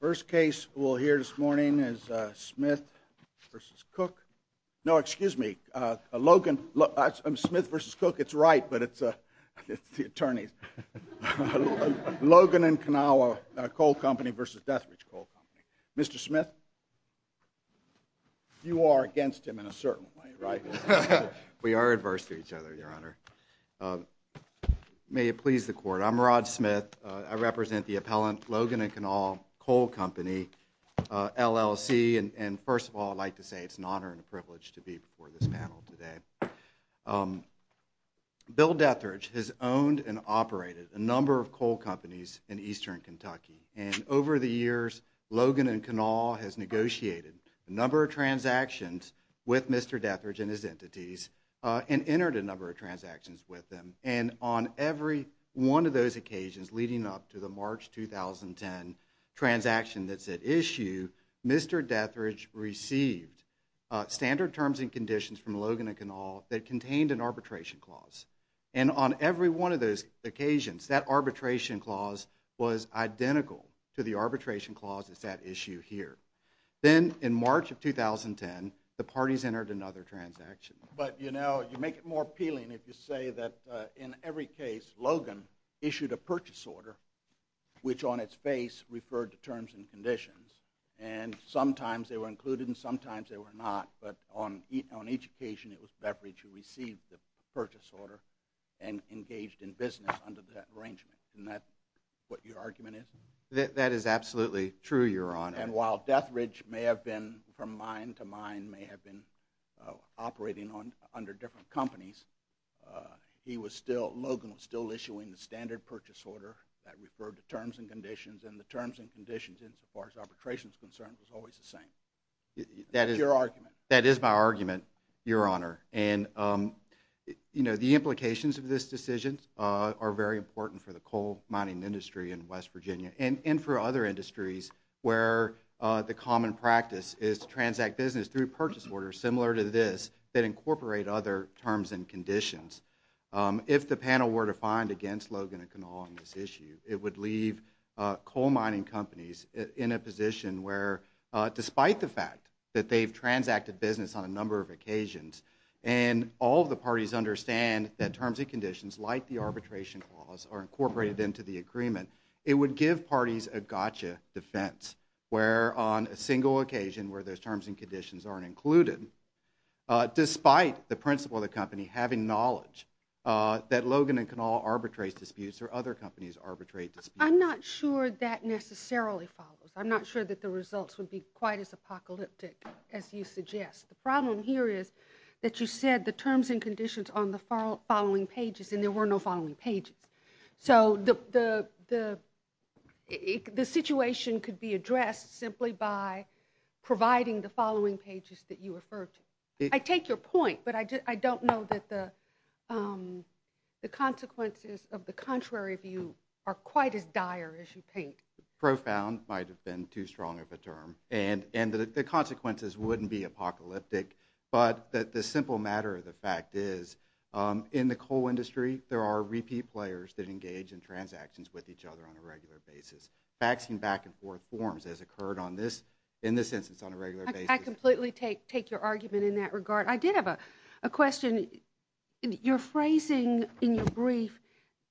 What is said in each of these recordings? First case we'll hear this morning is Smith v. Cook. No, excuse me, Logan. Smith v. Cook, it's right, but it's the attorneys. Logan & Kanawha Coal Company v. Detherage Coal Company. Mr. Smith, you are against him in a certain way, right? We are adverse to each other, Your Honor. May it please the Court, I'm Rod Smith. I represent the appellant, Logan & Kanawha Coal Company, LLC. And first of all, I'd like to say it's an honor and a privilege to be before this panel today. Bill Detherage has owned and operated a number of coal companies in eastern Kentucky. And over the years, Logan & Kanawha has negotiated a number of transactions with Mr. Detherage and his entities and entered a number of transactions with them. And on every one of those occasions leading up to the March 2010 transaction that's at issue, Mr. Detherage received standard terms and conditions from Logan & Kanawha that contained an arbitration clause. And on every one of those occasions, that arbitration clause was identical to the arbitration clause that's at issue here. Then in March of 2010, the parties entered another transaction. But, you know, you make it more appealing if you say that in every case, Logan issued a purchase order which on its face referred to terms and conditions. And sometimes they were included and sometimes they were not. But on each occasion, it was Detherage who received the purchase order and engaged in business under that arrangement. Isn't that what your argument is? That is absolutely true, Your Honor. And while Detherage may have been from mine to mine, may have been operating under different companies, he was still, Logan was still issuing the standard purchase order that referred to terms and conditions. And the terms and conditions insofar as arbitration is concerned was always the same. That is your argument. That is my argument, Your Honor. And, you know, the implications of this decision are very important for the coal mining industry in West Virginia and for other industries where the common practice is to transact business through purchase orders similar to this that incorporate other terms and conditions. If the panel were to find against Logan and Kanawha on this issue, it would leave coal mining companies in a position where despite the fact that they've transacted business on a number of occasions and all of the parties understand that terms and conditions, like the arbitration clause, are incorporated into the agreement, it would give parties a gotcha defense where on a single occasion where those terms and conditions aren't included, despite the principle of the company having knowledge that Logan and Kanawha arbitrate disputes or other companies arbitrate disputes. I'm not sure that necessarily follows. I'm not sure that the results would be quite as apocalyptic as you suggest. The problem here is that you said the terms and conditions on the following pages and there were no following pages. So the situation could be addressed simply by providing the following pages that you referred to. I take your point, but I don't know that the consequences of the contrary view are quite as dire as you think. Profound might have been too strong of a term, and the consequences wouldn't be apocalyptic, but the simple matter of the fact is in the coal industry, there are repeat players that engage in transactions with each other on a regular basis. Backs and back and forth forms has occurred in this instance on a regular basis. I completely take your argument in that regard. I did have a question. You're phrasing in your brief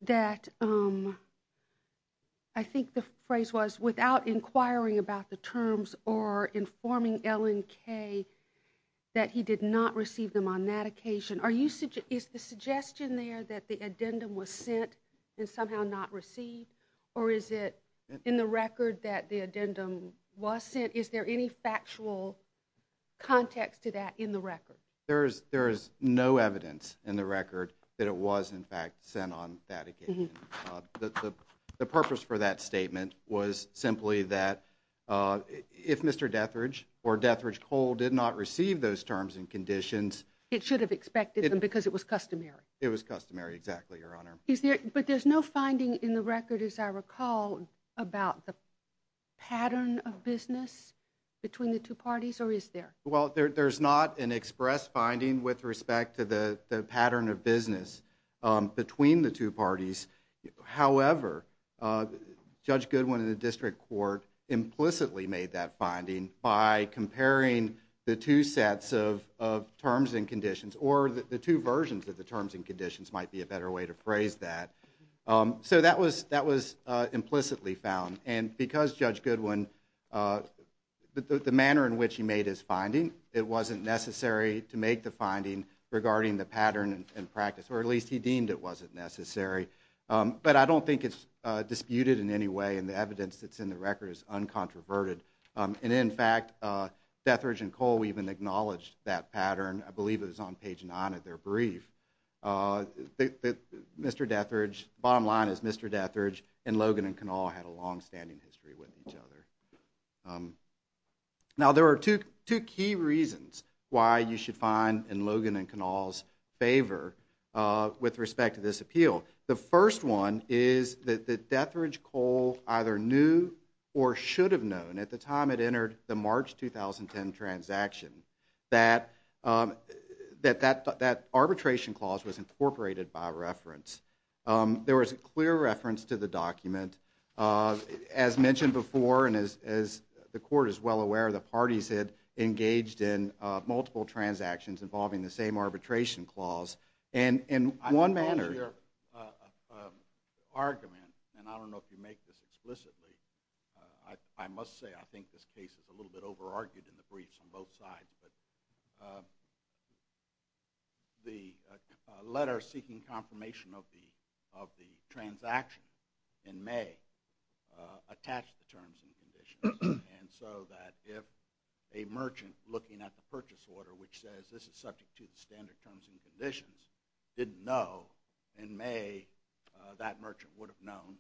that I think the phrase was without inquiring about the terms or informing Ellen Kay that he did not receive them on that occasion. Is the suggestion there that the addendum was sent and somehow not received, or is it in the record that the addendum was sent? Is there any factual context to that in the record? There is no evidence in the record that it was, in fact, sent on that occasion. The purpose for that statement was simply that if Mr. Detheridge or Detheridge Coal did not receive those terms and conditions It should have expected them because it was customary. It was customary, exactly, Your Honor. But there's no finding in the record, as I recall, about the pattern of business between the two parties, or is there? Well, there's not an express finding with respect to the pattern of business between the two parties. However, Judge Goodwin in the district court implicitly made that finding by comparing the two sets of terms and conditions, or the two versions of the terms and conditions might be a better way to phrase that. So that was implicitly found. And because Judge Goodwin, the manner in which he made his finding, it wasn't necessary to make the finding regarding the pattern in practice, or at least he deemed it wasn't necessary. But I don't think it's disputed in any way, and the evidence that's in the record is uncontroverted. And in fact, Detheridge and Coal even acknowledged that pattern. I believe it was on page nine of their brief. Mr. Detheridge, bottom line is Mr. Detheridge and Logan and Kanawha had a longstanding history with each other. Now, there are two key reasons why you should find in Logan and Kanawha's favor with respect to this appeal. The first one is that Detheridge Coal either knew or should have known at the time it entered the March 2010 transaction that that arbitration clause was incorporated by reference. There was a clear reference to the document, as mentioned before, and as the Court is well aware, the parties had engaged in multiple transactions involving the same arbitration clause. And in one manner- I don't hear an argument, and I don't know if you make this explicitly. I must say I think this case is a little bit over-argued in the briefs on both sides. But the letter seeking confirmation of the transaction in May attached the terms and conditions, and so that if a merchant looking at the purchase order, which says this is subject to the standard terms and conditions, didn't know in May, that merchant would have known.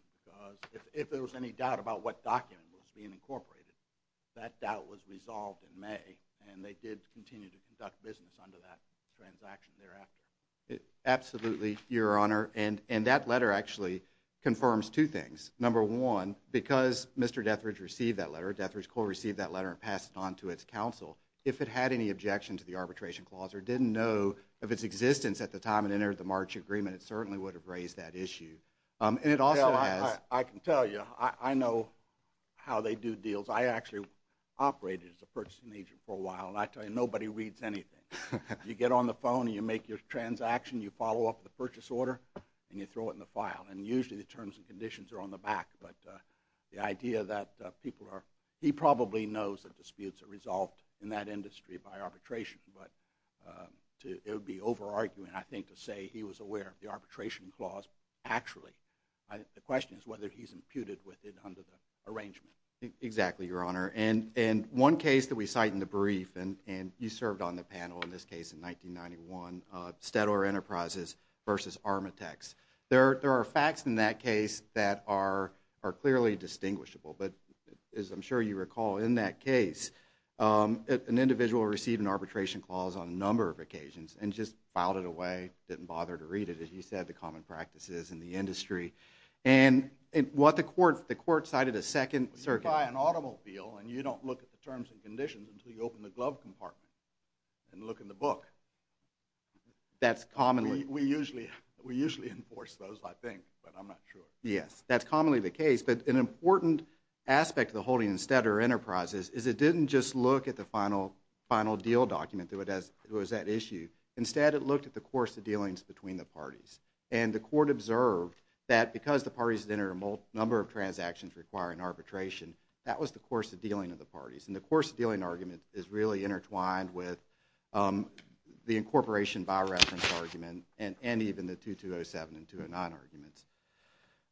Because if there was any doubt about what document was being incorporated, that doubt was resolved in May, and they did continue to conduct business under that transaction thereafter. Absolutely, Your Honor. And that letter actually confirms two things. Number one, because Mr. Detheridge received that letter, Detheridge Coal received that letter and passed it on to its counsel, if it had any objection to the arbitration clause or didn't know of its existence at the time it entered the March agreement, it certainly would have raised that issue. And it also has- Well, I can tell you, I know how they do deals. I actually operated as a purchasing agent for a while, and I tell you, nobody reads anything. You get on the phone and you make your transaction, you follow up with the purchase order, and you throw it in the file. And usually the terms and conditions are on the back, but the idea that people are-he probably knows that disputes are resolved in that industry by arbitration, but it would be over-arguing, I think, to say he was aware of the arbitration clause actually. The question is whether he's imputed with it under the arrangement. Exactly, Your Honor. And one case that we cite in the brief, and you served on the panel in this case in 1991, on Steadower Enterprises versus Armatex. There are facts in that case that are clearly distinguishable, but as I'm sure you recall, in that case, an individual received an arbitration clause on a number of occasions and just filed it away, didn't bother to read it, as you said, the common practices in the industry. And what the court-the court cited a second- You buy an automobile and you don't look at the terms and conditions until you open the glove compartment and look in the book. That's commonly- We usually enforce those, I think, but I'm not sure. Yes, that's commonly the case. But an important aspect of the holding in Steadower Enterprises is it didn't just look at the final deal document that was at issue. Instead, it looked at the course of dealings between the parties. And the court observed that because the parties had entered a number of transactions requiring arbitration, that was the course of dealing of the parties. And the course of dealing argument is really intertwined with the incorporation by reference argument and even the 2207 and 209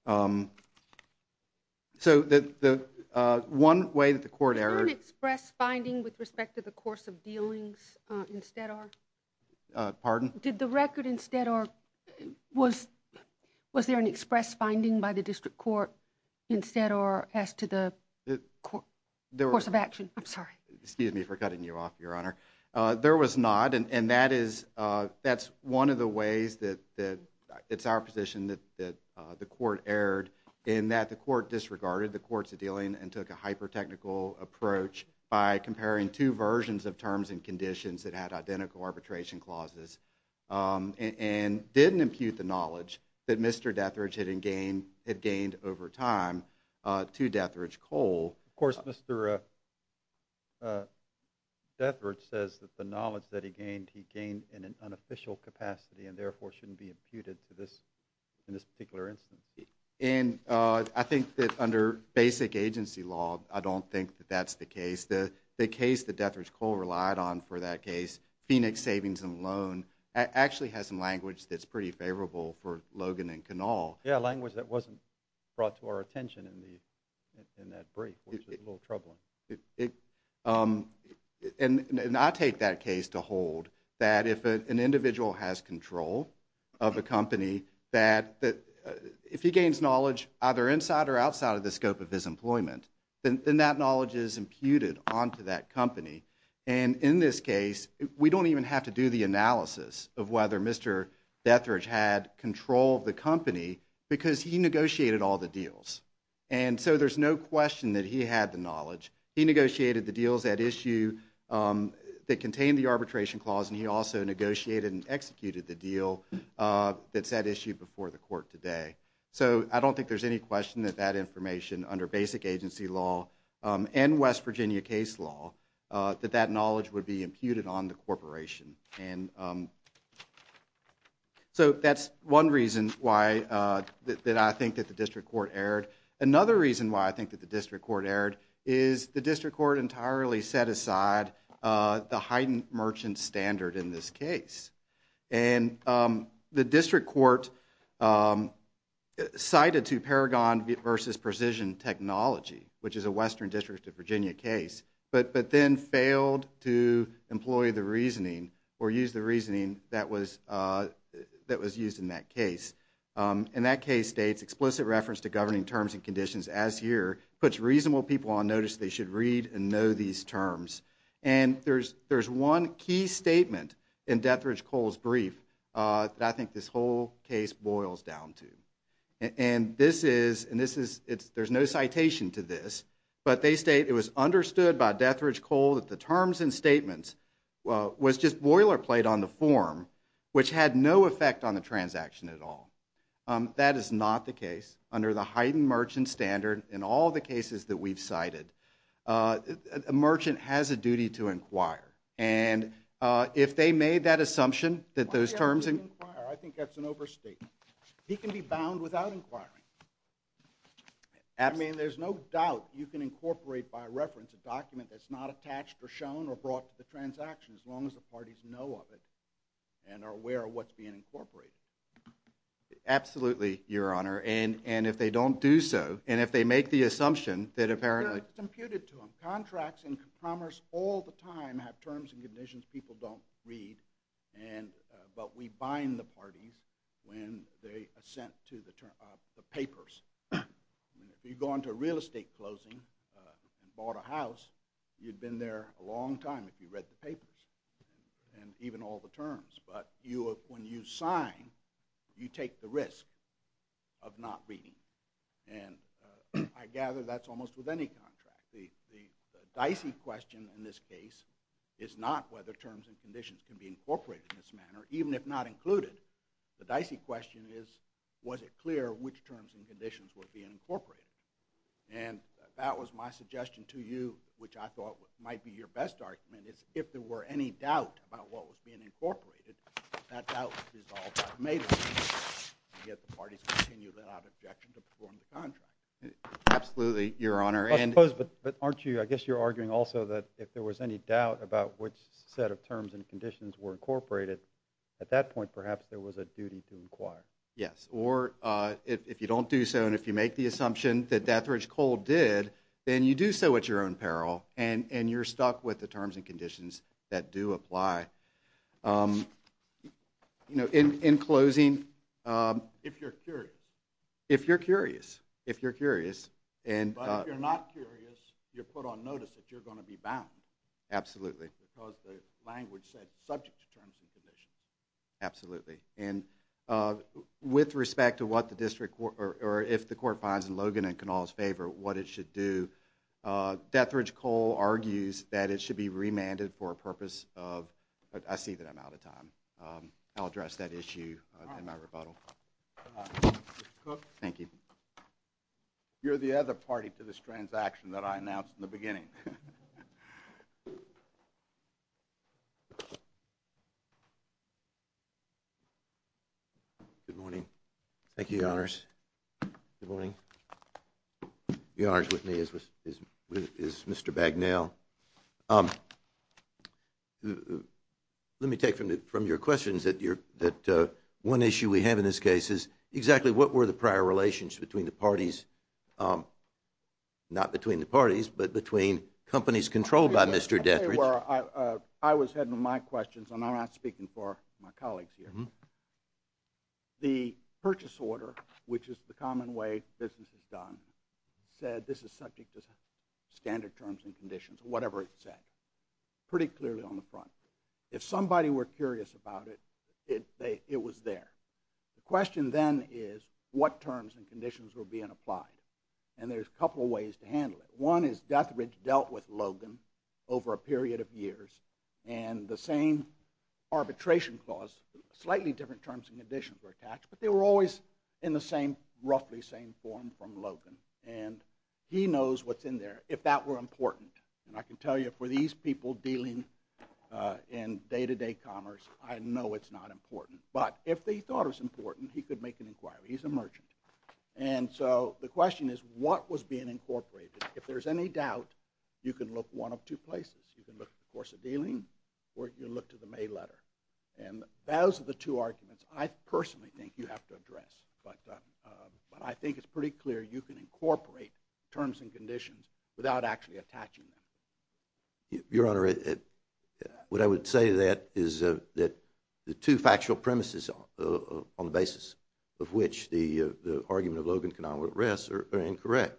arguments. So the one way that the court- Was there an express finding with respect to the course of dealings in Steadower? Pardon? Did the record in Steadower- Was there an express finding by the district court in Steadower as to the course of action? I'm sorry. Excuse me for cutting you off, Your Honor. There was not, and that's one of the ways that- It's our position that the court erred in that the court disregarded the courts of dealing and took a hyper-technical approach by comparing two versions of terms and conditions that had identical arbitration clauses and didn't impute the knowledge that Mr. Detheridge had gained over time to Detheridge Cole. Of course, Mr. Detheridge says that the knowledge that he gained, he gained in an unofficial capacity and therefore shouldn't be imputed to this particular instance. And I think that under basic agency law, I don't think that that's the case. The case that Detheridge Cole relied on for that case, Phoenix Savings and Loan, actually has some language that's pretty favorable for Logan and Kinnall. Yeah, language that wasn't brought to our attention in that brief, which is a little troubling. And I take that case to hold that if an individual has control of a company, that if he gains knowledge either inside or outside of the scope of his employment, then that knowledge is imputed onto that company. And in this case, we don't even have to do the analysis of whether Mr. Detheridge had control of the company because he negotiated all the deals. And so there's no question that he had the knowledge. He negotiated the deals at issue that contained the arbitration clause, and he also negotiated and executed the deal that's at issue before the court today. So I don't think there's any question that that information under basic agency law and West Virginia case law, that that knowledge would be imputed on the corporation. And so that's one reason why I think that the district court erred. Another reason why I think that the district court erred is the district court entirely set aside the heightened merchant standard in this case. And the district court cited to Paragon versus Precision Technology, which is a Western District of Virginia case, but then failed to employ the reasoning or use the reasoning that was used in that case. And that case states, explicit reference to governing terms and conditions as here, puts reasonable people on notice they should read and know these terms. And there's one key statement in Death Ridge Coal's brief that I think this whole case boils down to. And this is, and this is, there's no citation to this, but they state it was understood by Death Ridge Coal that the terms and statements was just boilerplate on the form, which had no effect on the transaction at all. That is not the case. Under the heightened merchant standard in all the cases that we've cited, a merchant has a duty to inquire. And if they made that assumption that those terms and- I think that's an overstatement. He can be bound without inquiring. I mean, there's no doubt you can incorporate, by reference, a document that's not attached or shown or brought to the transaction, as long as the parties know of it and are aware of what's being incorporated. Absolutely, Your Honor. It's computed to them. Contracts and compromise all the time have terms and conditions people don't read, but we bind the parties when they assent to the papers. If you go into a real estate closing and bought a house, you'd been there a long time if you read the papers and even all the terms. But when you sign, you take the risk of not reading. And I gather that's almost with any contract. The dicey question in this case is not whether terms and conditions can be incorporated in this manner, even if not included. The dicey question is, was it clear which terms and conditions were being incorporated? And that was my suggestion to you, which I thought might be your best argument, is if there were any doubt about what was being incorporated, that doubt was resolved automatically. Yet the parties continued without objection to perform the contract. Absolutely, Your Honor. I suppose, but aren't you, I guess you're arguing also that if there was any doubt about which set of terms and conditions were incorporated, at that point perhaps there was a duty to inquire. Yes, or if you don't do so and if you make the assumption that Death Ridge Coal did, then you do so at your own peril and you're stuck with the terms and conditions that do apply. You know, in closing. If you're curious. If you're curious. If you're curious. But if you're not curious, you're put on notice that you're going to be bound. Absolutely. Because the language said subject to terms and conditions. Absolutely. And with respect to what the district, or if the court finds in Logan and Cannell's favor what it should do, Death Ridge Coal argues that it should be remanded for a purpose of, I see that I'm out of time. I'll address that issue in my rebuttal. Mr. Cook. Thank you. You're the other party to this transaction that I announced in the beginning. Thank you, Your Honors. Good morning. Your Honors, with me is Mr. Bagnell. Let me take from your questions that one issue we have in this case is exactly what were the prior relations between the parties, not between the parties, but between companies controlled by Mr. Death Ridge. I was heading with my questions and I'm not speaking for my colleagues here. The purchase order, which is the common way business is done, said this is subject to standard terms and conditions, whatever it said, pretty clearly on the front. If somebody were curious about it, it was there. The question then is what terms and conditions were being applied. And there's a couple of ways to handle it. One is Death Ridge dealt with Logan over a period of years. And the same arbitration clause, slightly different terms and conditions were attached, but they were always in the same, roughly same form from Logan. And he knows what's in there, if that were important. And I can tell you, for these people dealing in day-to-day commerce, I know it's not important. But if they thought it was important, he could make an inquiry. He's a merchant. And so the question is, what was being incorporated? If there's any doubt, you can look one of two places. You can look at the course of dealing or you look to the mail letter. And those are the two arguments I personally think you have to address. But I think it's pretty clear you can incorporate terms and conditions without actually attaching them. Your Honor, what I would say to that is that the two factual premises on the basis of which the argument of Logan Kanawha rests are incorrect.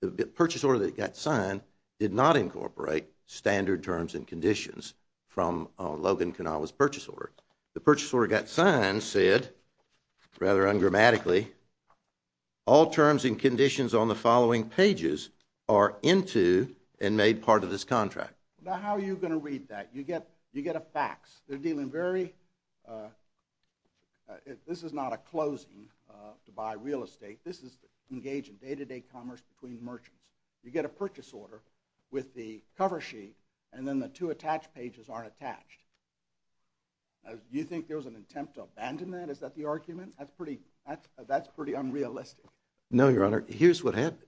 The purchase order that got signed did not incorporate standard terms and conditions from Logan Kanawha's purchase order. The purchase order that got signed said, rather ungrammatically, all terms and conditions on the following pages are into and made part of this contract. Now, how are you going to read that? You get a fax. They're dealing very, this is not a closing to buy real estate. This is engaging day-to-day commerce between merchants. You get a purchase order with the cover sheet and then the two attached pages aren't attached. Do you think there was an attempt to abandon that? Is that the argument? That's pretty unrealistic. No, Your Honor. Here's what happened.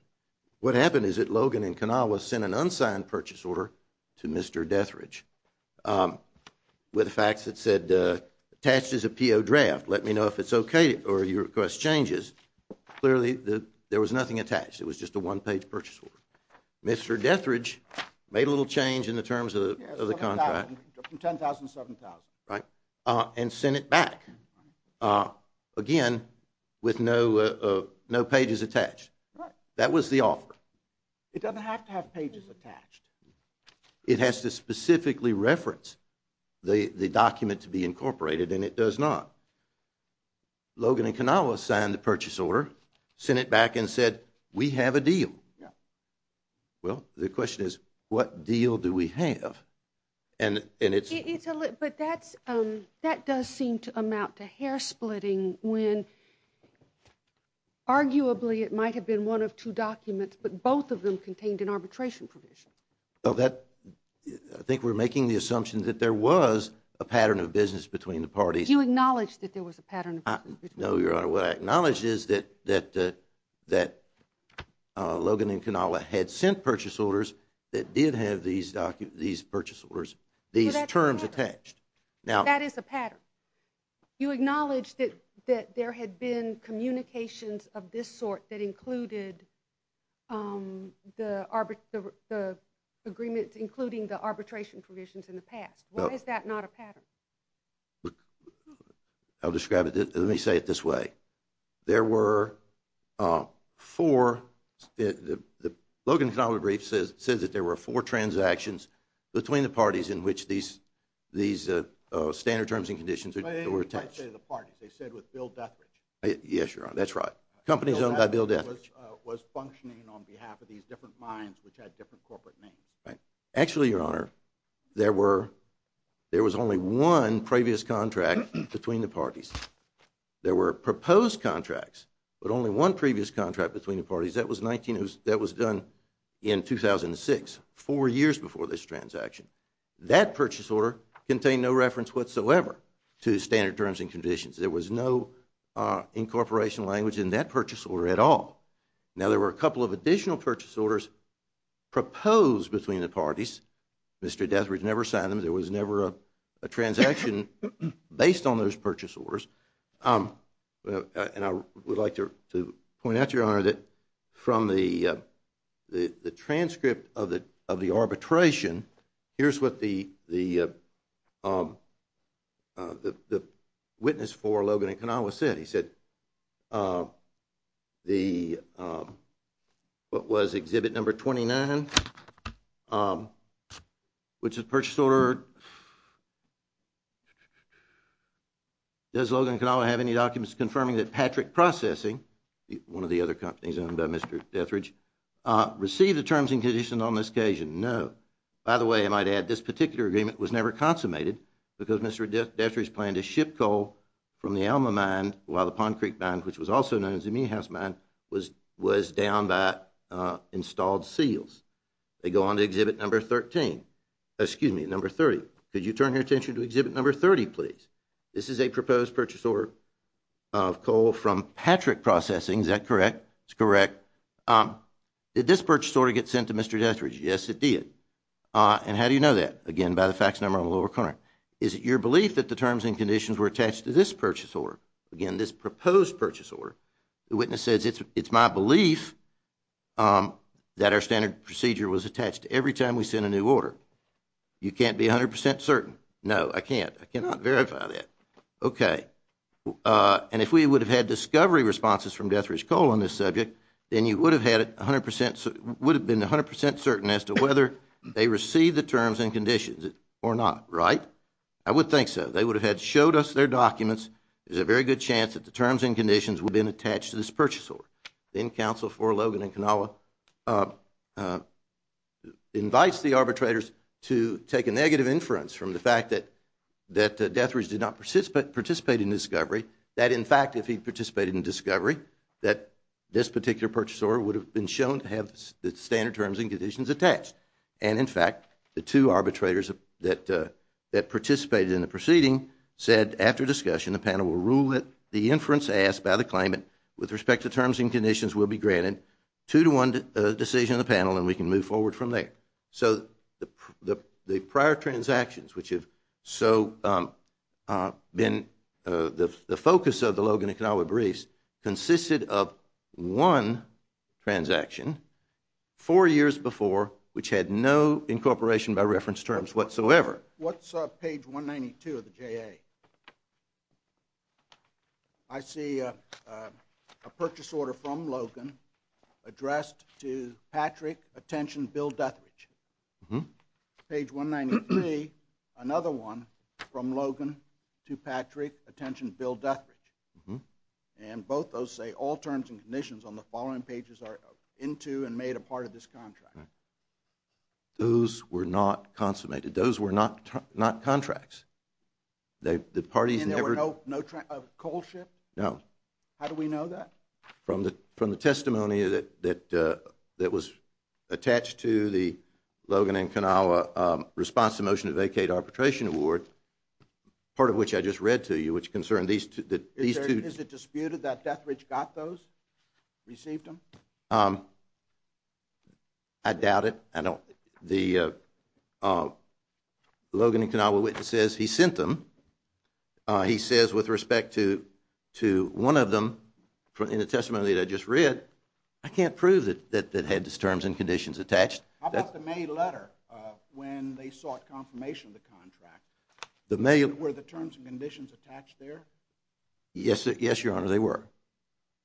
What happened is that Logan and Kanawha sent an unsigned purchase order to Mr. Detheridge with a fax that said, attached as a PO draft. Let me know if it's okay or your request changes. Clearly, there was nothing attached. It was just a one-page purchase order. Mr. Detheridge made a little change in the terms of the contract. From $10,000 to $7,000. And sent it back. Again, with no pages attached. That was the offer. It doesn't have to have pages attached. It has to specifically reference the document to be incorporated and it does not. Logan and Kanawha signed the purchase order, sent it back and said, we have a deal. Well, the question is, what deal do we have? But that does seem to amount to hair splitting when arguably it might have been one of two documents, but both of them contained an arbitration provision. I think we're making the assumption that there was a pattern of business between the parties. Do you acknowledge that there was a pattern of business? No, Your Honor. Your Honor, what I acknowledge is that Logan and Kanawha had sent purchase orders that did have these purchase orders, these terms attached. That is a pattern. You acknowledge that there had been communications of this sort that included the agreement, including the arbitration provisions in the past. Why is that not a pattern? I'll describe it. Let me say it this way. There were four, Logan and Kanawha briefs says that there were four transactions between the parties in which these standard terms and conditions were attached. I didn't say the parties. I said with Bill Deathridge. Yes, Your Honor. That's right. Companies owned by Bill Deathridge. Bill Deathridge was functioning on behalf of these different mines which had different corporate names. Actually, Your Honor, there was only one previous contract between the parties. There were proposed contracts, but only one previous contract between the parties. That was done in 2006, four years before this transaction. That purchase order contained no reference whatsoever to standard terms and conditions. There was no incorporation language in that purchase order at all. Now, there were a couple of additional purchase orders proposed between the parties. Mr. Deathridge never signed them. There was never a transaction based on those purchase orders. I would like to point out, Your Honor, that from the transcript of the arbitration, here's what the witness for Logan and Kanawha said. He said what was Exhibit No. 29, which is purchase order. Does Logan and Kanawha have any documents confirming that Patrick Processing, one of the other companies owned by Mr. Deathridge, received the terms and conditions on this occasion? No. By the way, I might add, this particular agreement was never consummated because Mr. Deathridge planned to ship coal from the Alma Mine while the Pond Creek Mine, which was also known as the Meehouse Mine, was downed by installed seals. They go on to Exhibit No. 30. Could you turn your attention to Exhibit No. 30, please? This is a proposed purchase order of coal from Patrick Processing. Is that correct? It's correct. Did this purchase order get sent to Mr. Deathridge? Yes, it did. And how do you know that? Again, by the fax number on the lower corner. Is it your belief that the terms and conditions were attached to this purchase order? Again, this proposed purchase order. The witness says it's my belief that our standard procedure was attached every time we sent a new order. You can't be 100% certain? No, I can't. I cannot verify that. Okay. And if we would have had discovery responses from Deathridge Coal on this subject, then you would have been 100% certain as to whether they received the terms and conditions or not, right? I would think so. They would have showed us their documents. There's a very good chance that the terms and conditions would have been attached to this purchase order. Then counsel for Logan and Kanawha invites the arbitrators to take a negative inference from the fact that Deathridge did not participate in discovery, that, in fact, if he participated in discovery, that this particular purchase order would have been shown to have the standard terms and conditions attached. And, in fact, the two arbitrators that participated in the proceeding said, after discussion, the panel will rule it. The inference asked by the claimant with respect to terms and conditions will be granted. Two-to-one decision of the panel, and we can move forward from there. So the prior transactions, which have so been the focus of the Logan and Kanawha briefs, consisted of one transaction four years before, which had no incorporation by reference terms whatsoever. What's page 192 of the JA? I see a purchase order from Logan addressed to Patrick, attention, Bill Deathridge. Page 193, another one from Logan to Patrick, attention, Bill Deathridge. And both those say all terms and conditions on the following pages are into and made a part of this contract. Those were not consummated. Those were not contracts. And there were no coal ships? No. How do we know that? From the testimony that was attached to the Logan and Kanawha response to the motion to vacate arbitration award, part of which I just read to you, which concerned these two. Is it disputed that Deathridge got those, received them? I doubt it. The Logan and Kanawha witness says he sent them. He says, with respect to one of them, in the testimony that I just read, I can't prove that it had those terms and conditions attached. How about the May letter when they sought confirmation of the contract? Were the terms and conditions attached there? Yes, Your Honor, they were.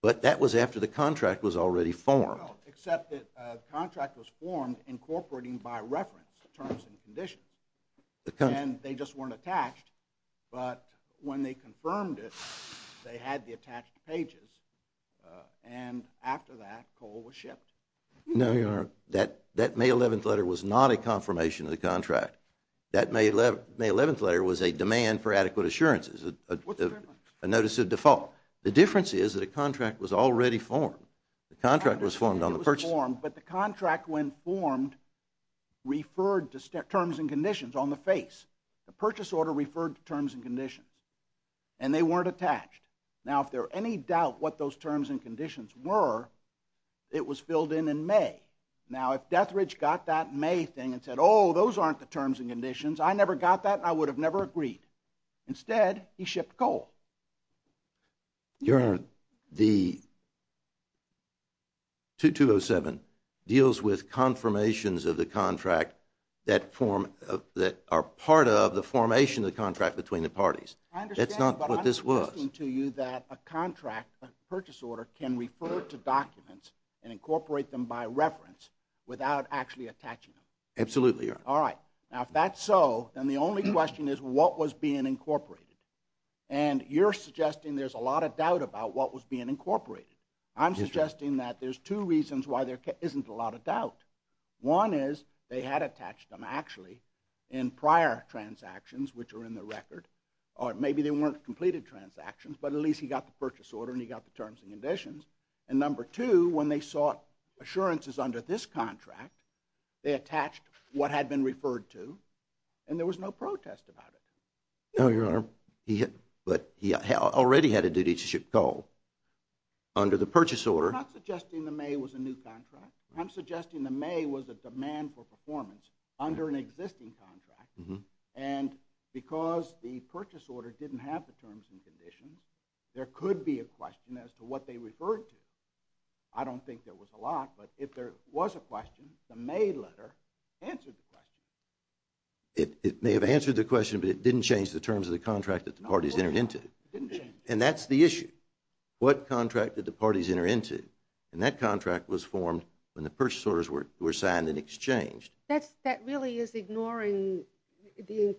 But that was after the contract was already formed. Well, except that the contract was formed incorporating by reference terms and conditions. And they just weren't attached. But when they confirmed it, they had the attached pages. And after that, coal was shipped. No, Your Honor, that May 11th letter was not a confirmation of the contract. That May 11th letter was a demand for adequate assurances, a notice of default. The difference is that a contract was already formed. The contract was formed on the purchase. But the contract, when formed, referred to terms and conditions on the face. The purchase order referred to terms and conditions. And they weren't attached. Now, if there were any doubt what those terms and conditions were, it was filled in in May. Now, if Deathridge got that May thing and said, oh, those aren't the terms and conditions, I never got that, I would have never agreed. Instead, he shipped coal. Your Honor, the 2207 deals with confirmations of the contract that are part of the formation of the contract between the parties. That's not what this was. I understand, but I'm suggesting to you that a contract, a purchase order, can refer to documents and incorporate them by reference without actually attaching them. Absolutely, Your Honor. All right. Now, if that's so, then the only question is what was being incorporated. And you're suggesting there's a lot of doubt about what was being incorporated. I'm suggesting that there's two reasons why there isn't a lot of doubt. One is they had attached them, actually, in prior transactions, which are in the record. Or maybe they weren't completed transactions, but at least he got the purchase order and he got the terms and conditions. And number two, when they sought assurances under this contract, they attached what had been referred to, and there was no protest about it. No, Your Honor. But he already had a duty to go under the purchase order. I'm not suggesting the May was a new contract. I'm suggesting the May was a demand for performance under an existing contract. And because the purchase order didn't have the terms and conditions, there could be a question as to what they referred to. I don't think there was a lot, but if there was a question, the May letter answered the question. It may have answered the question, but it didn't change the terms of the contract that the parties entered into. And that's the issue. What contract did the parties enter into? And that contract was formed when the purchase orders were signed and exchanged. That really is ignoring the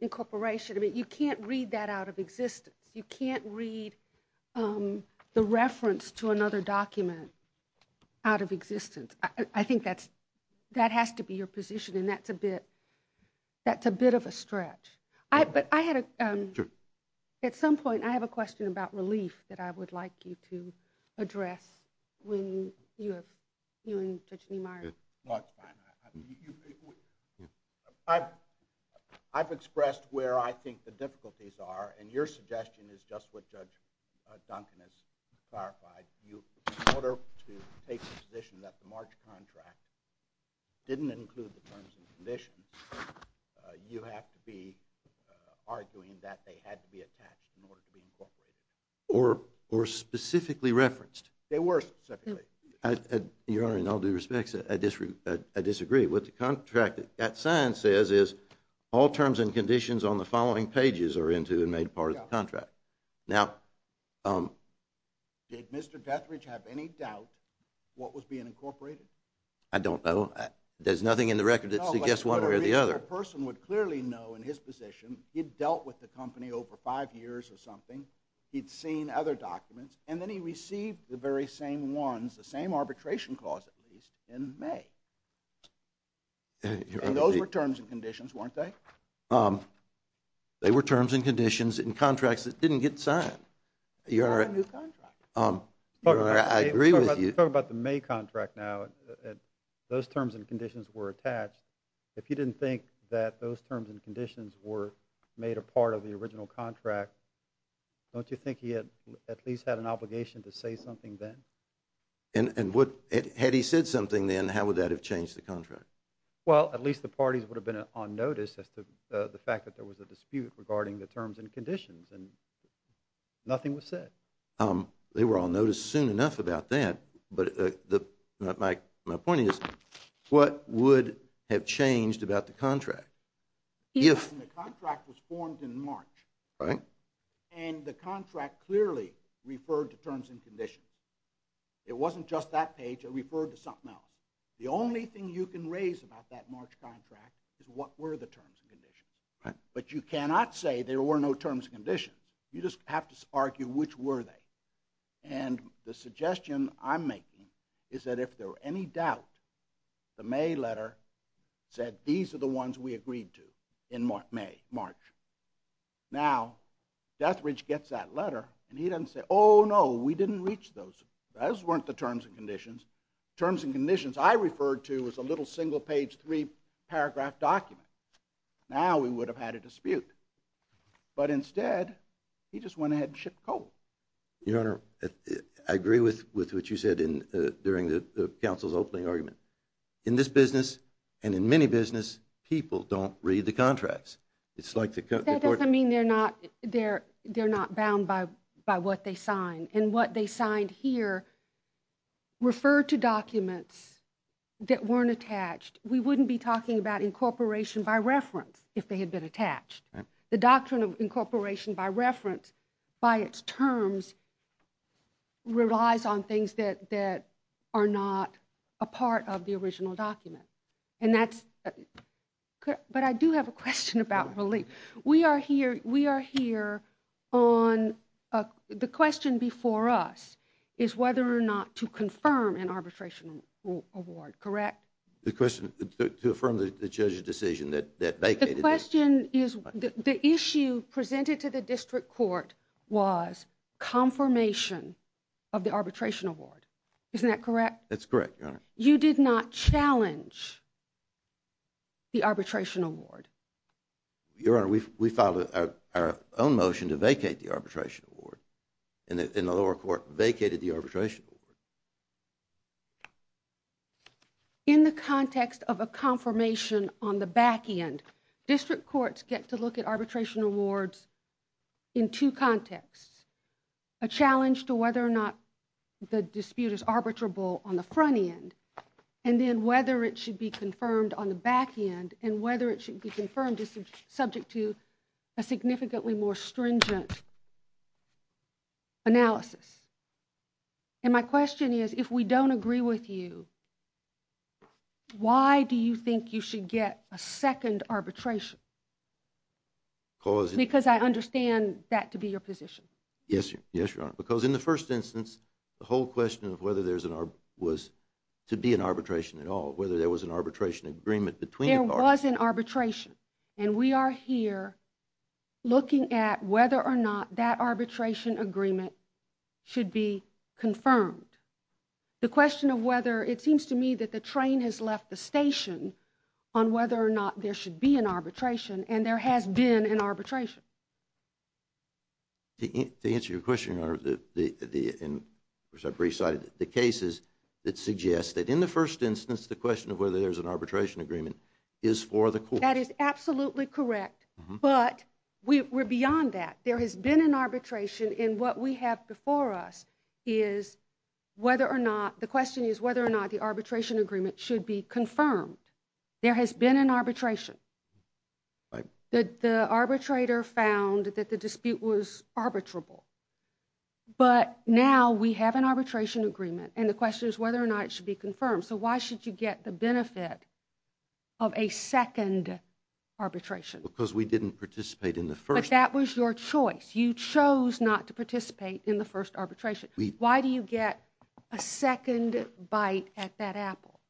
incorporation. I mean, you can't read that out of existence. You can't read the reference to another document out of existence. I think that has to be your position, and that's a bit of a stretch. But at some point I have a question about relief that I would like you to address when you and Judge Niemeyer. No, it's fine. I've expressed where I think the difficulties are, and your suggestion is just what Judge Duncan has clarified. In order to take the position that the March contract didn't include the terms and conditions, you have to be arguing that they had to be attached in order to be incorporated. Or specifically referenced. They were specifically. Your Honor, in all due respect, I disagree. What the contract at sign says is all terms and conditions on the following pages are into and made part of the contract. Now, did Mr. Dethridge have any doubt what was being incorporated? I don't know. There's nothing in the record that suggests one way or the other. No, but a person would clearly know in his position he'd dealt with the company over five years or something, he'd seen other documents, and then he received the very same ones, the same arbitration clause at least, in May. And those were terms and conditions, weren't they? They were terms and conditions in contracts that didn't get signed. Your Honor, I agree with you. Let's talk about the May contract now. Those terms and conditions were attached. If you didn't think that those terms and conditions were made a part of the original contract, don't you think he at least had an obligation to say something then? And had he said something then, how would that have changed the contract? Well, at least the parties would have been on notice as to the fact that there was a dispute regarding the terms and conditions, and nothing was said. They were on notice soon enough about that, but my point is, what would have changed about the contract? The contract was formed in March, and the contract clearly referred to terms and conditions. It wasn't just that page, it referred to something else. The only thing you can raise about that March contract is what were the terms and conditions. But you cannot say there were no terms and conditions. You just have to argue which were they. And the suggestion I'm making is that if there were any doubt, the May letter said these are the ones we agreed to in March. Now, Deathridge gets that letter, and he doesn't say, oh, no, we didn't reach those. Those weren't the terms and conditions. The terms and conditions I referred to was a little single-page, three-paragraph document. Now we would have had a dispute. But instead, he just went ahead and shipped coal. Your Honor, I agree with what you said during the Council's opening argument. In this business, and in many businesses, people don't read the contracts. That doesn't mean they're not bound by what they sign. And what they signed here referred to documents that weren't attached. We wouldn't be talking about incorporation by reference if they had been attached. The doctrine of incorporation by reference, by its terms, relies on things that are not a part of the original document. And that's... But I do have a question about relief. We are here on... The question before us is whether or not to confirm an arbitration award, correct? The question... to affirm the judge's decision that vacated... The question is... The issue presented to the district court was confirmation of the arbitration award. Isn't that correct? That's correct, Your Honor. You did not challenge the arbitration award? Your Honor, we filed our own motion to vacate the arbitration award, and the lower court vacated the arbitration award. In the context of a confirmation on the back end, district courts get to look at arbitration awards in two contexts. A challenge to whether or not the dispute is arbitrable on the front end, and then whether it should be confirmed on the back end, and whether it should be confirmed is subject to a significantly more stringent analysis. And my question is, if we don't agree with you, why do you think you should get a second arbitration? Because... Because I understand that to be your position. Yes, Your Honor. Because in the first instance, was to be an arbitration at all, whether there was an arbitration agreement between the parties. There was an arbitration, and we are here looking at whether or not that arbitration agreement should be confirmed. The question of whether, it seems to me that the train has left the station on whether or not there should be an arbitration, and there has been an arbitration. To answer your question, Your Honor, and of course I've recited the cases that suggest that in the first instance, the question of whether there's an arbitration agreement is for the court. That is absolutely correct, but we're beyond that. There has been an arbitration, and what we have before us is whether or not, the question is whether or not the arbitration agreement should be confirmed. There has been an arbitration. The arbitrator found that the dispute was arbitrable, but now we have an arbitration agreement, and the question is whether or not it should be confirmed. So why should you get the benefit of a second arbitration? Because we didn't participate in the first. But that was your choice. You chose not to participate in the first arbitration. Why do you get a second bite at that apple?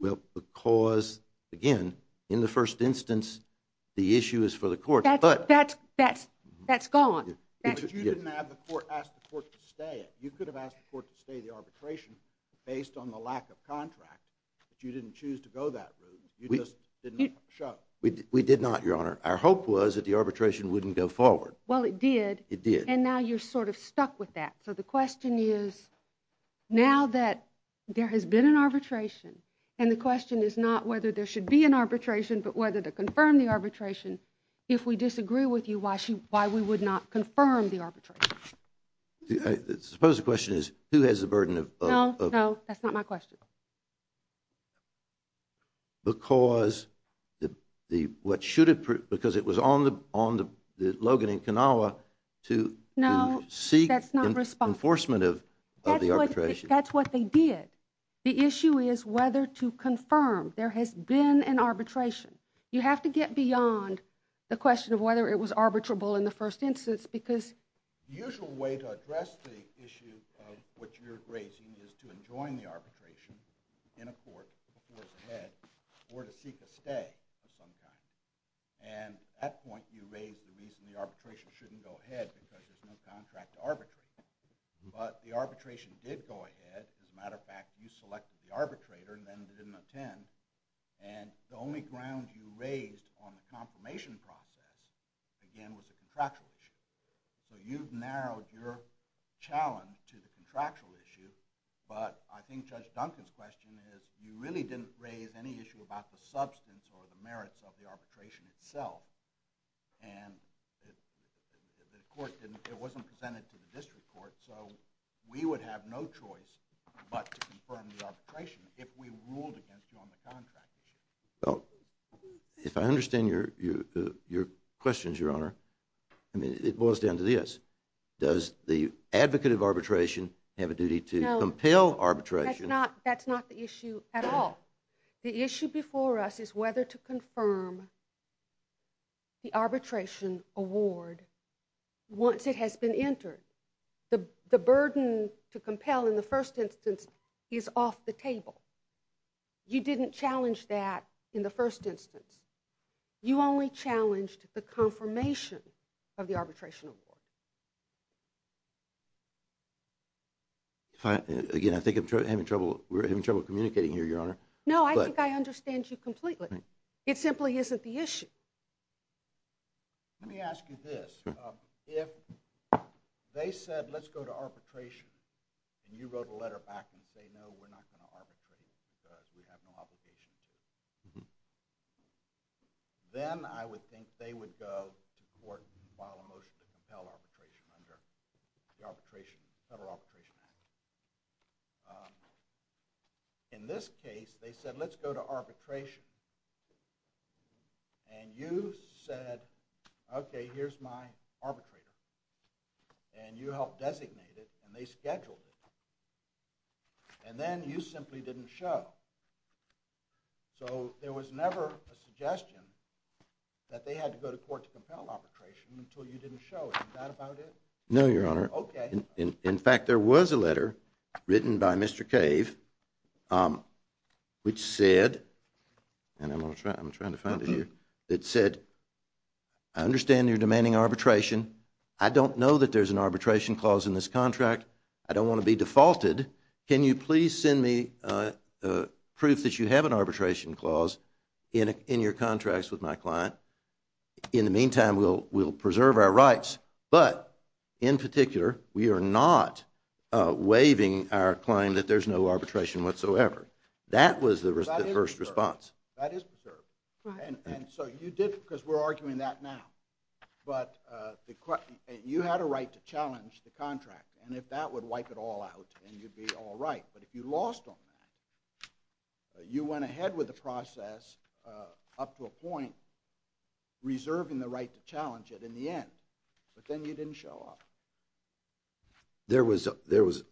Well, because, again, in the first instance, the issue is for the court. That's gone. But you didn't ask the court to stay it. You could have asked the court to stay the arbitration based on the lack of contract. But you didn't choose to go that route. You just didn't show. We did not, Your Honor. Our hope was that the arbitration wouldn't go forward. Well, it did. It did. And now you're sort of stuck with that. So the question is, now that there has been an arbitration, and the question is not whether there should be an arbitration, but whether to confirm the arbitration, if we disagree with you, why we would not confirm the arbitration? I suppose the question is, who has the burden of the arbitration? No, no, that's not my question. Because it was on Logan and Kanawha to seek enforcement of the arbitration. That's what they did. The issue is whether to confirm. There has been an arbitration. You have to get beyond the question of whether it was arbitrable in the first instance, The usual way to address the issue of what you're raising is to enjoin the arbitration in a court, before it's a head, or to seek a stay of some kind. And at that point, you raised the reason the arbitration shouldn't go ahead, because there's no contract to arbitrate. But the arbitration did go ahead. As a matter of fact, you selected the arbitrator, and then they didn't attend. And the only ground you raised on the confirmation process, again, was a contractual issue. So you've narrowed your challenge to the contractual issue, but I think Judge Duncan's question is, you really didn't raise any issue about the substance or the merits of the arbitration itself. And the court didn't, it wasn't presented to the district court, so we would have no choice but to confirm the arbitration if we ruled against you on the contract issue. If I understand your questions, Your Honor, it boils down to this. Does the advocate of arbitration have a duty to compel arbitration? That's not the issue at all. The issue before us is whether to confirm the arbitration award once it has been entered. The burden to compel in the first instance is off the table. You didn't challenge that in the first instance. You only challenged the confirmation of the arbitration award. Again, I think I'm having trouble, we're having trouble communicating here, Your Honor. No, I think I understand you completely. It simply isn't the issue. Let me ask you this. If they said, let's go to arbitration, and you wrote a letter back and say, no, we're not going to arbitrate because we have no obligation to. Then I would think they would go to court and file a motion to compel arbitration under the Federal Arbitration Act. In this case, they said, let's go to arbitration, and you said, okay, here's my arbitrator, and you helped designate it, and they scheduled it. And then you simply didn't show. So there was never a suggestion that they had to go to court to compel arbitration until you didn't show it. Is that about it? No, Your Honor. Okay. In fact, there was a letter written by Mr. Cave which said, and I'm trying to find it here, that said, I understand you're demanding arbitration. I don't know that there's an arbitration clause in this contract. I don't want to be defaulted. Can you please send me proof that you have an arbitration clause in your contracts with my client? In the meantime, we'll preserve our rights, but in particular, we are not waiving our claim that there's no arbitration whatsoever. That was the first response. That is preserved. And so you did, because we're arguing that now, but you had a right to challenge the contract, and if that would wipe it all out, then you'd be all right. But if you lost on that, you went ahead with the process up to a point, reserving the right to challenge it in the end, but then you didn't show up. There was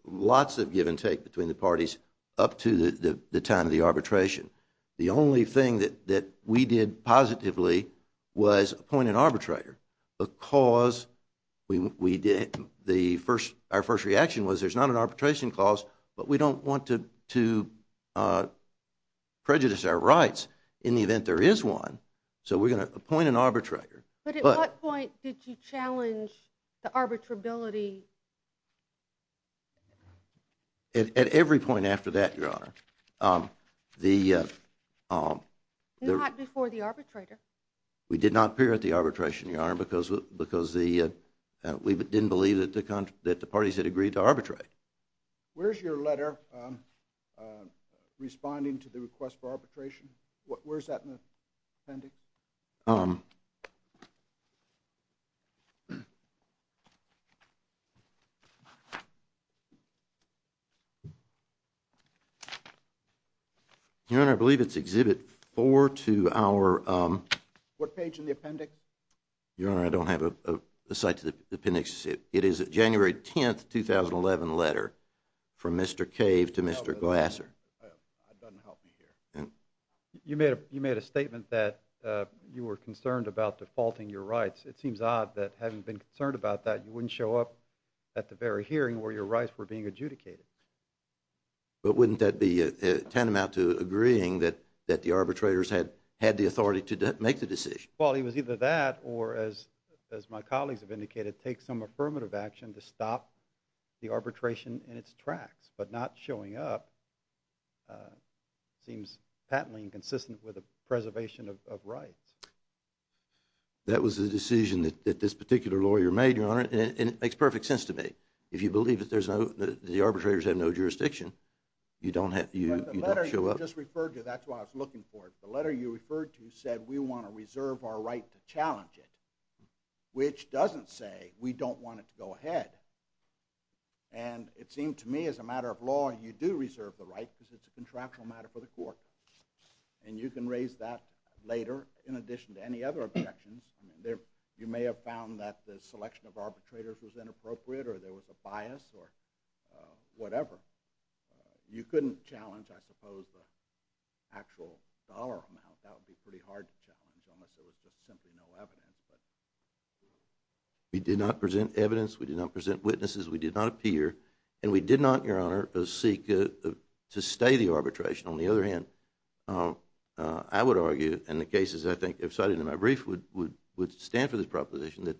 lots of give and take between the parties up to the time of the arbitration. The only thing that we did positively was appoint an arbitrator because our first reaction was there's not an arbitration clause, but we don't want to prejudice our rights in the event there is one, so we're going to appoint an arbitrator. But at what point did you challenge the arbitrability? At every point after that, Your Honor. Not before the arbitrator. We did not appear at the arbitration, Your Honor, because we didn't believe that the parties had agreed to arbitrate. Where's your letter responding to the request for arbitration? Where's that in the appendix? Your Honor, I believe it's Exhibit 4 to our... What page in the appendix? Your Honor, I don't have a site to the appendix. It is a January 10, 2011 letter from Mr. Cave to Mr. Glasser. That doesn't help me here. You made a statement that you were concerned about defaulting your rights. It seems odd that having been concerned about that, you wouldn't show up at the very hearing where your rights were being adjudicated. But wouldn't that be tantamount to agreeing that the arbitrators had the authority to make the decision? Well, it was either that or, as my colleagues have indicated, take some affirmative action to stop the arbitration in its tracks. But not showing up seems patently inconsistent with the preservation of rights. That was the decision that this particular lawyer made, Your Honor, and it makes perfect sense to me. If you believe that the arbitrators have no jurisdiction, you don't show up. The letter you just referred to, that's why I was looking for it. The letter you referred to said we want to reserve our right to challenge it, which doesn't say we don't want it to go ahead. And it seemed to me, as a matter of law, you do reserve the right because it's a contractual matter for the court. And you can raise that later in addition to any other objections. You may have found that the selection of arbitrators was inappropriate or there was a bias or whatever. You couldn't challenge, I suppose, the actual dollar amount. That would be pretty hard to challenge unless there was just simply no evidence. We did not present evidence. We did not present witnesses. We did not appear. And we did not, Your Honor, seek to stay the arbitration. On the other hand, I would argue, in the cases I think cited in my brief would stand for this proposition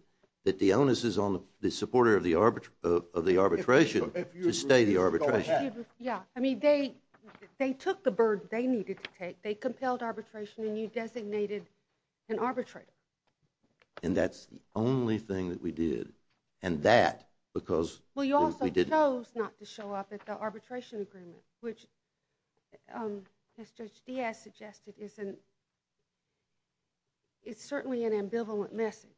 that the onus is on the supporter of the arbitration to stay the arbitration. Yeah. I mean, they took the bird they needed to take. They compelled arbitration and you designated an arbitrator. And that's the only thing that we did. And that because... Well, you also chose not to show up at the arbitration agreement, which, as Judge Diaz suggested, is certainly an ambivalent message.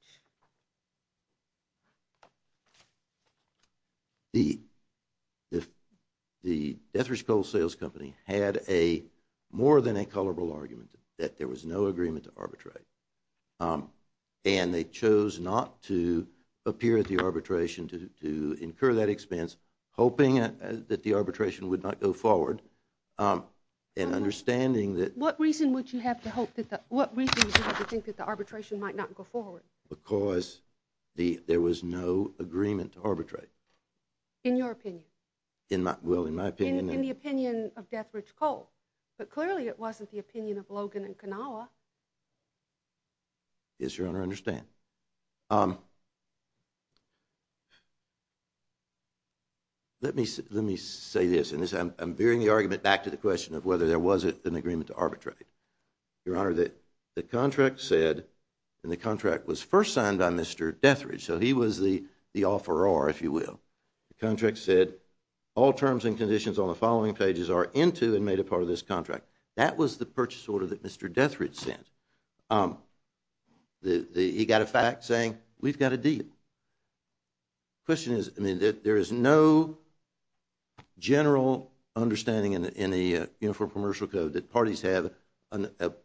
The Deathrish Coal Sales Company had a more than a colorable argument that there was no agreement to arbitrate. And they chose not to appear at the arbitration to incur that expense, hoping that the arbitration would not go forward and understanding that... What reason would you have to hope that the... What reason would you have to think that the arbitration might not go forward? Because there was no agreement to arbitrate. In your opinion. Well, in my opinion. In the opinion of Deathrish Coal. But clearly it wasn't the opinion of Logan and Kanawha. Yes, Your Honor, I understand. Let me say this. I'm veering the argument back to the question of whether there was an agreement to arbitrate. Your Honor, the contract said, and the contract was first signed by Mr. Deathrish, so he was the offeror, if you will. The contract said, all terms and conditions on the following pages are into and made a part of this contract. That was the purchase order that Mr. Deathrish sent. He got a fact saying, we've got a deal. The question is, I mean, there is no general understanding in the Uniform Commercial Code that parties have the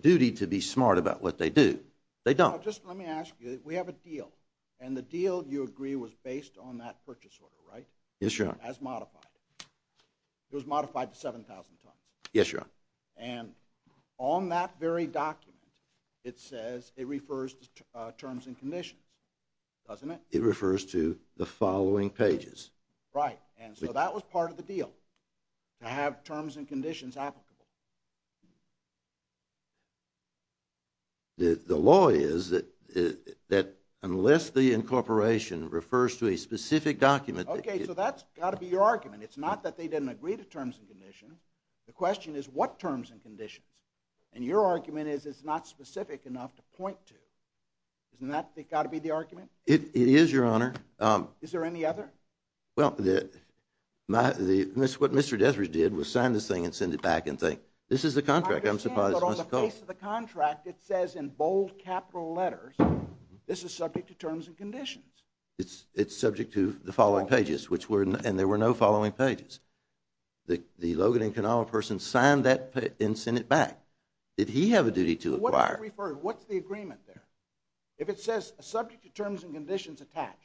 duty to be smart about what they do. They don't. Just let me ask you, we have a deal. And the deal, you agree, was based on that purchase order, right? Yes, Your Honor. As modified. It was modified to 7,000 tons. Yes, Your Honor. And on that very document, it says it refers to terms and conditions, doesn't it? It refers to the following pages. Right, and so that was part of the deal. To have terms and conditions applicable. The law is that unless the incorporation refers to a specific document. Okay, so that's got to be your argument. It's not that they didn't agree to terms and conditions. The question is, what terms and conditions? And your argument is it's not specific enough to point to. Isn't that got to be the argument? It is, Your Honor. Is there any other? Well, what Mr. Dethridge did was sign this thing and send it back and say, this is the contract. I'm surprised it wasn't called. I understand, but on the face of the contract, it says in bold capital letters, this is subject to terms and conditions. It's subject to the following pages, and there were no following pages. The Logan and Kanawha person signed that and sent it back. Did he have a duty to acquire? What's the agreement there? If it says subject to terms and conditions attached.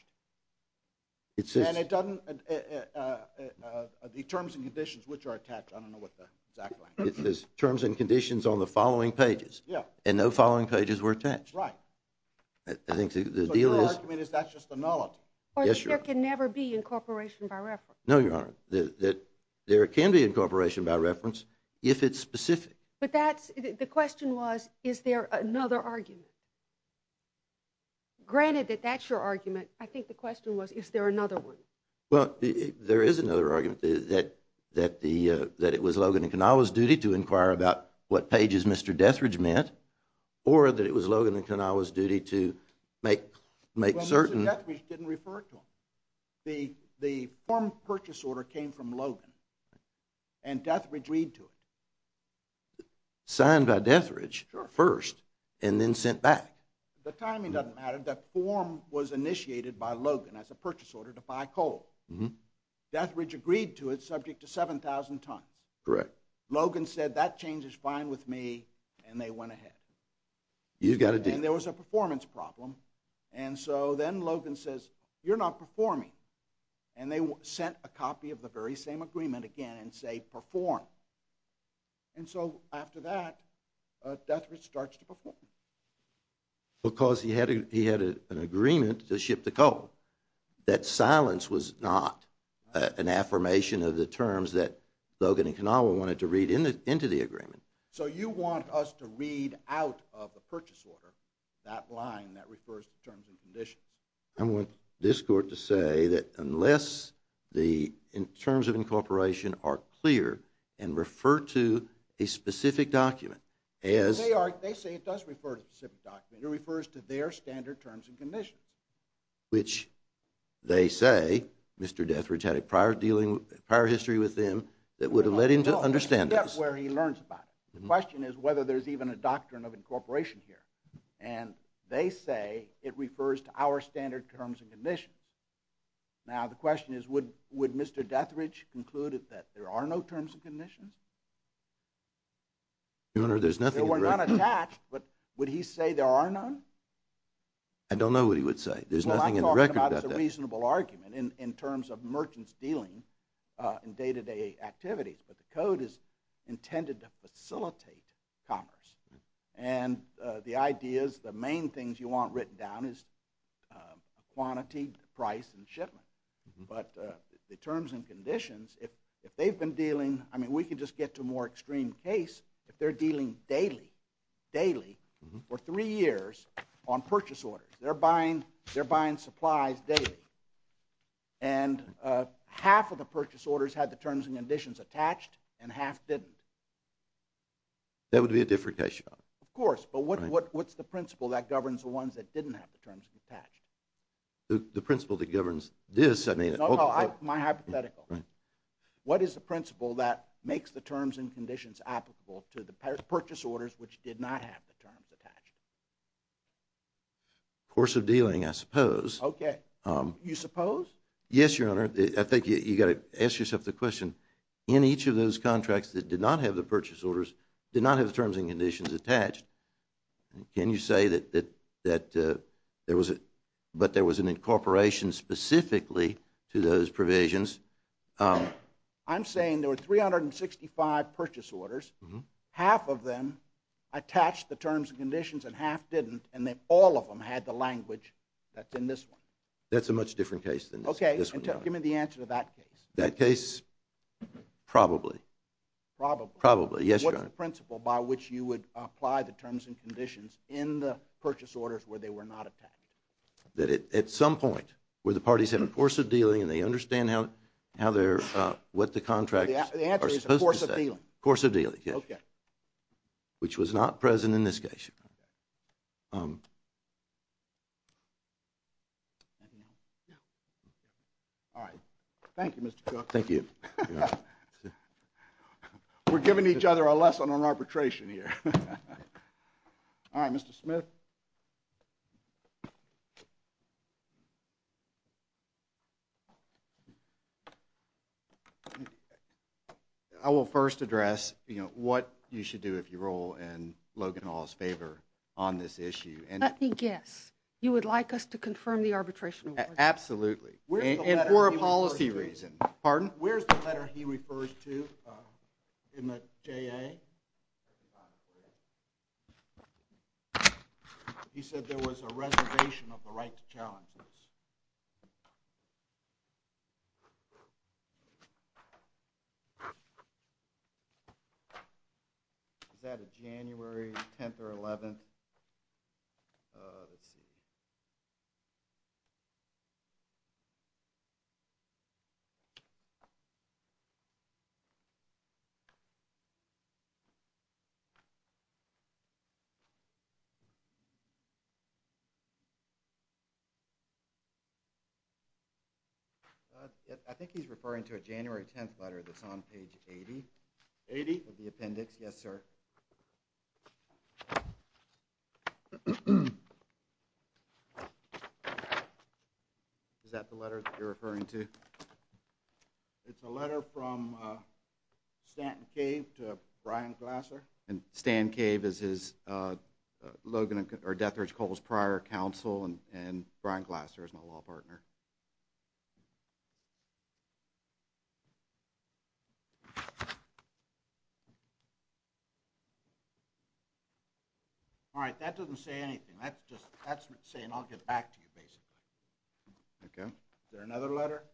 And it doesn't, the terms and conditions which are attached, I don't know what the exact one is. It says terms and conditions on the following pages. Yeah. And no following pages were attached. Right. I think the deal is. So your argument is that's just a nullity. Yes, Your Honor. Or that there can never be incorporation by reference. No, Your Honor. There can be incorporation by reference if it's specific. But that's, the question was, is there another argument? Granted that that's your argument, I think the question was, is there another one? Well, there is another argument, that it was Logan and Kanawha's duty to inquire about what pages Mr. Deathridge meant, or that it was Logan and Kanawha's duty to make certain. Well, Mr. Deathridge didn't refer to them. The form purchase order came from Logan, and Deathridge read to it. Signed by Deathridge first. Sure. Signed by Deathridge first, and then sent back. The timing doesn't matter. The form was initiated by Logan as a purchase order to buy coal. Deathridge agreed to it, subject to 7,000 tons. Correct. Logan said, that change is fine with me, and they went ahead. You've got a deal. And there was a performance problem, and so then Logan says, you're not performing. And they sent a copy of the very same agreement again, and say perform. And so after that, Deathridge starts to perform. Because he had an agreement to ship the coal. That silence was not an affirmation of the terms that Logan and Kanawha wanted to read into the agreement. So you want us to read out of the purchase order, that line that refers to terms and conditions. I want this court to say that unless the terms of incorporation are clear, and refer to a specific document. They say it does refer to a specific document. It refers to their standard terms and conditions. Which they say, Mr. Deathridge had a prior history with them that would have led him to understand this. That's where he learns about it. The question is whether there's even a doctrine of incorporation here. And they say it refers to our standard terms and conditions. Now the question is, would Mr. Deathridge conclude that there are no terms and conditions? Your Honor, there's nothing in the record. There were none attached, but would he say there are none? I don't know what he would say. There's nothing in the record about that. Well, I'm talking about a reasonable argument in terms of merchants dealing in day-to-day activities. But the code is intended to facilitate commerce. And the ideas, the main things you want written down is quantity, price, and shipment. But the terms and conditions, if they've been dealing, I mean we can just get to a more extreme case, if they're dealing daily, daily, for three years on purchase orders. They're buying supplies daily. And half of the purchase orders had the terms and conditions attached, and half didn't. That would be a different case, Your Honor. Of course, but what's the principle that governs the ones that didn't have the terms attached? The principle that governs this? No, no, my hypothetical. What is the principle that makes the terms and conditions applicable to the purchase orders which did not have the terms attached? Course of dealing, I suppose. Okay. You suppose? Yes, Your Honor. I think you've got to ask yourself the question. In each of those contracts that did not have the purchase orders, did not have the terms and conditions attached, can you say that there was an incorporation specifically to those provisions? I'm saying there were 365 purchase orders, half of them attached the terms and conditions and half didn't, and all of them had the language that's in this one. That's a much different case than this one, Your Honor. Okay, give me the answer to that case. Probably? Probably, yes, Your Honor. What is the principle by which you would apply the terms and conditions in the purchase orders where they were not attached? That at some point where the parties have a course of dealing and they understand what the contracts are supposed to say. The answer is a course of dealing. A course of dealing, yes. Okay. Which was not present in this case. All right, thank you, Mr. Cook. Thank you, Your Honor. We're giving each other a lesson on arbitration here. All right, Mr. Smith. I will first address, you know, what you should do if you roll in Logan Hall's favor on this issue. Let me guess. You would like us to confirm the arbitration? Absolutely, and for a policy reason. Pardon? Where's the letter he refers to in the JA? He said there was a reservation of the right to challenge this. Is that a January 10th or 11th? Let's see. Let's see. I think he's referring to a January 10th letter that's on page 80. 80? Of the appendix, yes, sir. Is that the letter that you're referring to? It's a letter from Stanton Cave to Brian Glasser. And Stanton Cave is his Logan or Death Ridge Coles prior counsel, and Brian Glasser is my law partner. All right, that doesn't say anything. That's just saying I'll get back to you, basically. Okay. Is there another letter?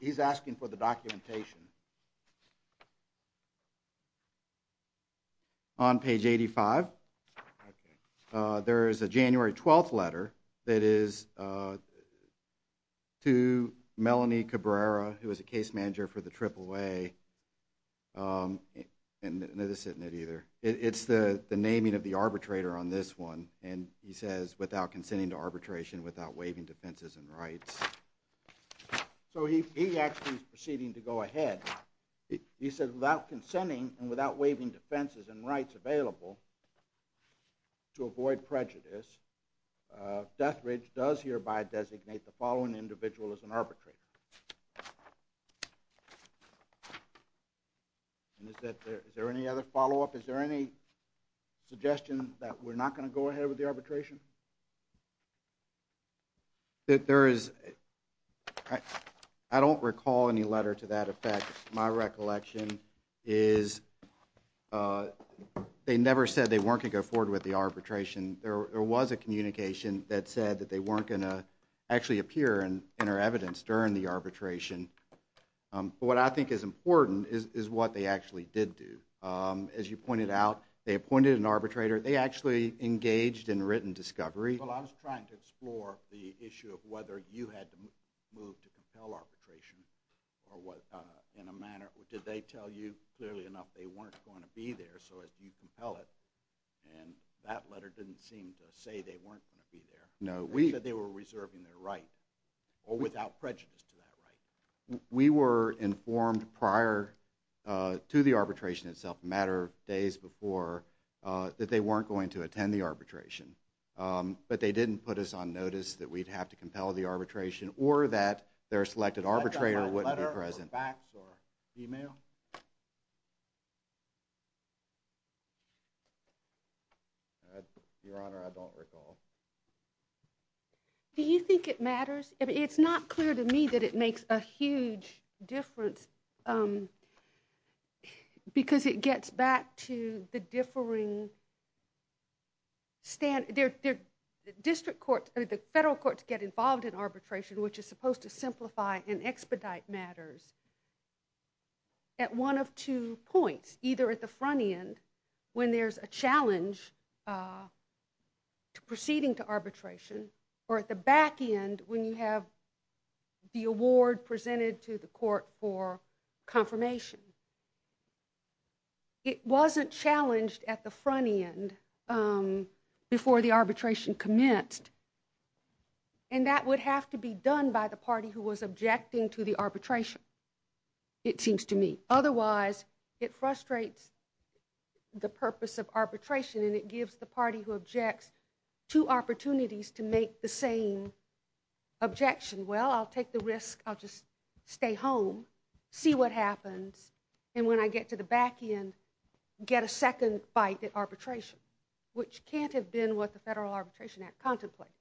He's asking for the documentation. On page 85. Okay. There is a January 12th letter that is to Melanie Cabrera, who is a case manager for the AAA. It's the naming of the arbitrator on this one, and he says, without consenting to arbitration, without waiving defenses and rights. So he actually is proceeding to go ahead. He says, without consenting and without waiving defenses and rights available to avoid prejudice, Death Ridge does hereby designate the following individual as an arbitrator. And is there any other follow-up? Is there any suggestion that we're not going to go ahead with the arbitration? I don't recall any letter to that effect. My recollection is they never said they weren't going to go forward with the arbitration. There was a communication that said that they weren't going to actually appear and enter evidence during the arbitration. But what I think is important is what they actually did do. As you pointed out, they appointed an arbitrator. They actually engaged in written discovery. Well, I was trying to explore the issue of whether you had to move to compel arbitration. Did they tell you clearly enough they weren't going to be there, so you compel it? And that letter didn't seem to say they weren't going to be there. No. They said they were reserving their right, or without prejudice to that right. We were informed prior to the arbitration itself, a matter of days before, that they weren't going to attend the arbitration. But they didn't put us on notice that we'd have to compel the arbitration or that their selected arbitrator wouldn't be present. Letter or fax or email? Your Honor, I don't recall. Do you think it matters? It's not clear to me that it makes a huge difference because it gets back to the differing standards. The federal courts get involved in arbitration, which is supposed to simplify and expedite matters, at one of two points, either at the front end, when there's a challenge to proceeding to arbitration, or at the back end, when you have the award presented to the court for confirmation. It wasn't challenged at the front end before the arbitration commenced, and that would have to be done by the party who was objecting to the arbitration, it seems to me. Otherwise, it frustrates the purpose of arbitration and it gives the party who objects two opportunities to make the same objection. Well, I'll take the risk, I'll just stay home, see what happens, and when I get to the back end, get a second bite at arbitration, which can't have been what the Federal Arbitration Act contemplated.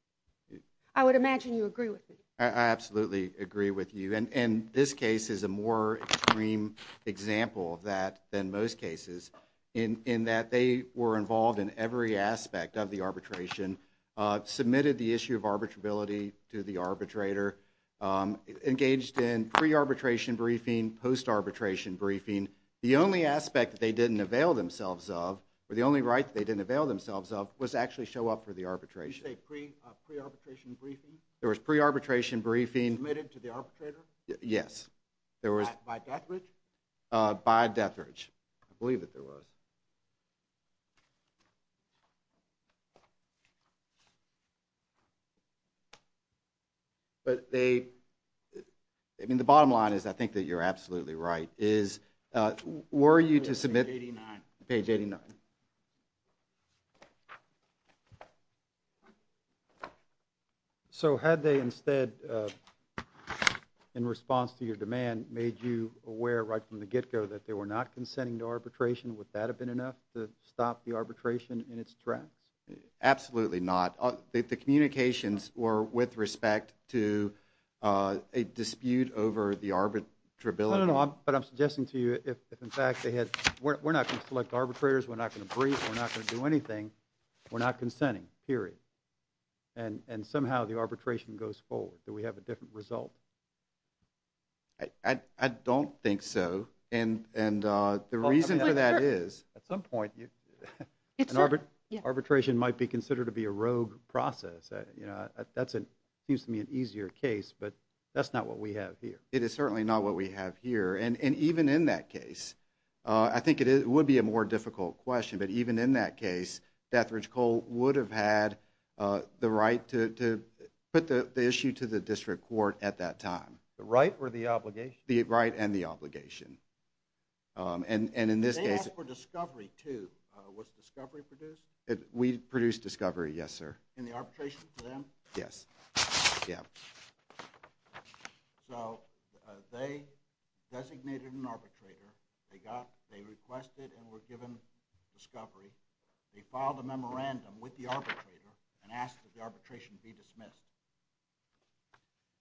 I would imagine you agree with me. I absolutely agree with you, and this case is a more extreme example of that than most cases, in that they were involved in every aspect of the arbitration, submitted the issue of arbitrability to the arbitrator, engaged in pre-arbitration briefing, post-arbitration briefing. The only aspect they didn't avail themselves of, or the only right they didn't avail themselves of, was to actually show up for the arbitration. You say pre-arbitration briefing? There was pre-arbitration briefing. Submitted to the arbitrator? Yes. By Deathridge? By Deathridge. I believe that there was. But they... I mean, the bottom line is, I think that you're absolutely right, is were you to submit... Page 89. Page 89. So had they instead, in response to your demand, made you aware right from the get-go that they were not consenting to arbitration, would that have been enough to stop the arbitration in its tracks? Absolutely not. The communications were with respect to a dispute over the arbitrability. No, no, no, but I'm suggesting to you if in fact they had... We're not going to select arbitrators, we're not going to brief, we're not going to do anything, we're not consenting, period. And somehow the arbitration goes forward. Do we have a different result? I don't think so. And the reason for that is... At some point... The arbitration might be considered to be a rogue process. That seems to me an easier case, but that's not what we have here. It is certainly not what we have here. And even in that case, I think it would be a more difficult question, but even in that case, Deathridge Coal would have had the right to put the issue to the district court at that time. The right or the obligation? The right and the obligation. And in this case... They asked for discovery too. They produced discovery, yes sir. In the arbitration for them? Yes. So they designated an arbitrator, they requested and were given discovery, they filed a memorandum with the arbitrator and asked that the arbitration be dismissed.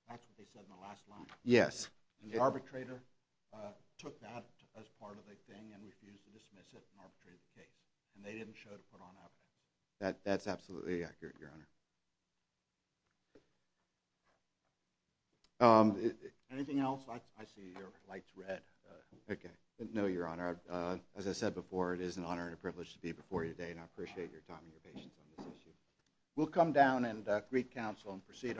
That's what they said in the last line. Yes. And the arbitrator took that as part of the thing and refused to dismiss it That's absolutely accurate, Your Honor. Anything else? I see your light's red. No, Your Honor. As I said before, it is an honor and a privilege to be before you today and I appreciate your time and your patience on this issue.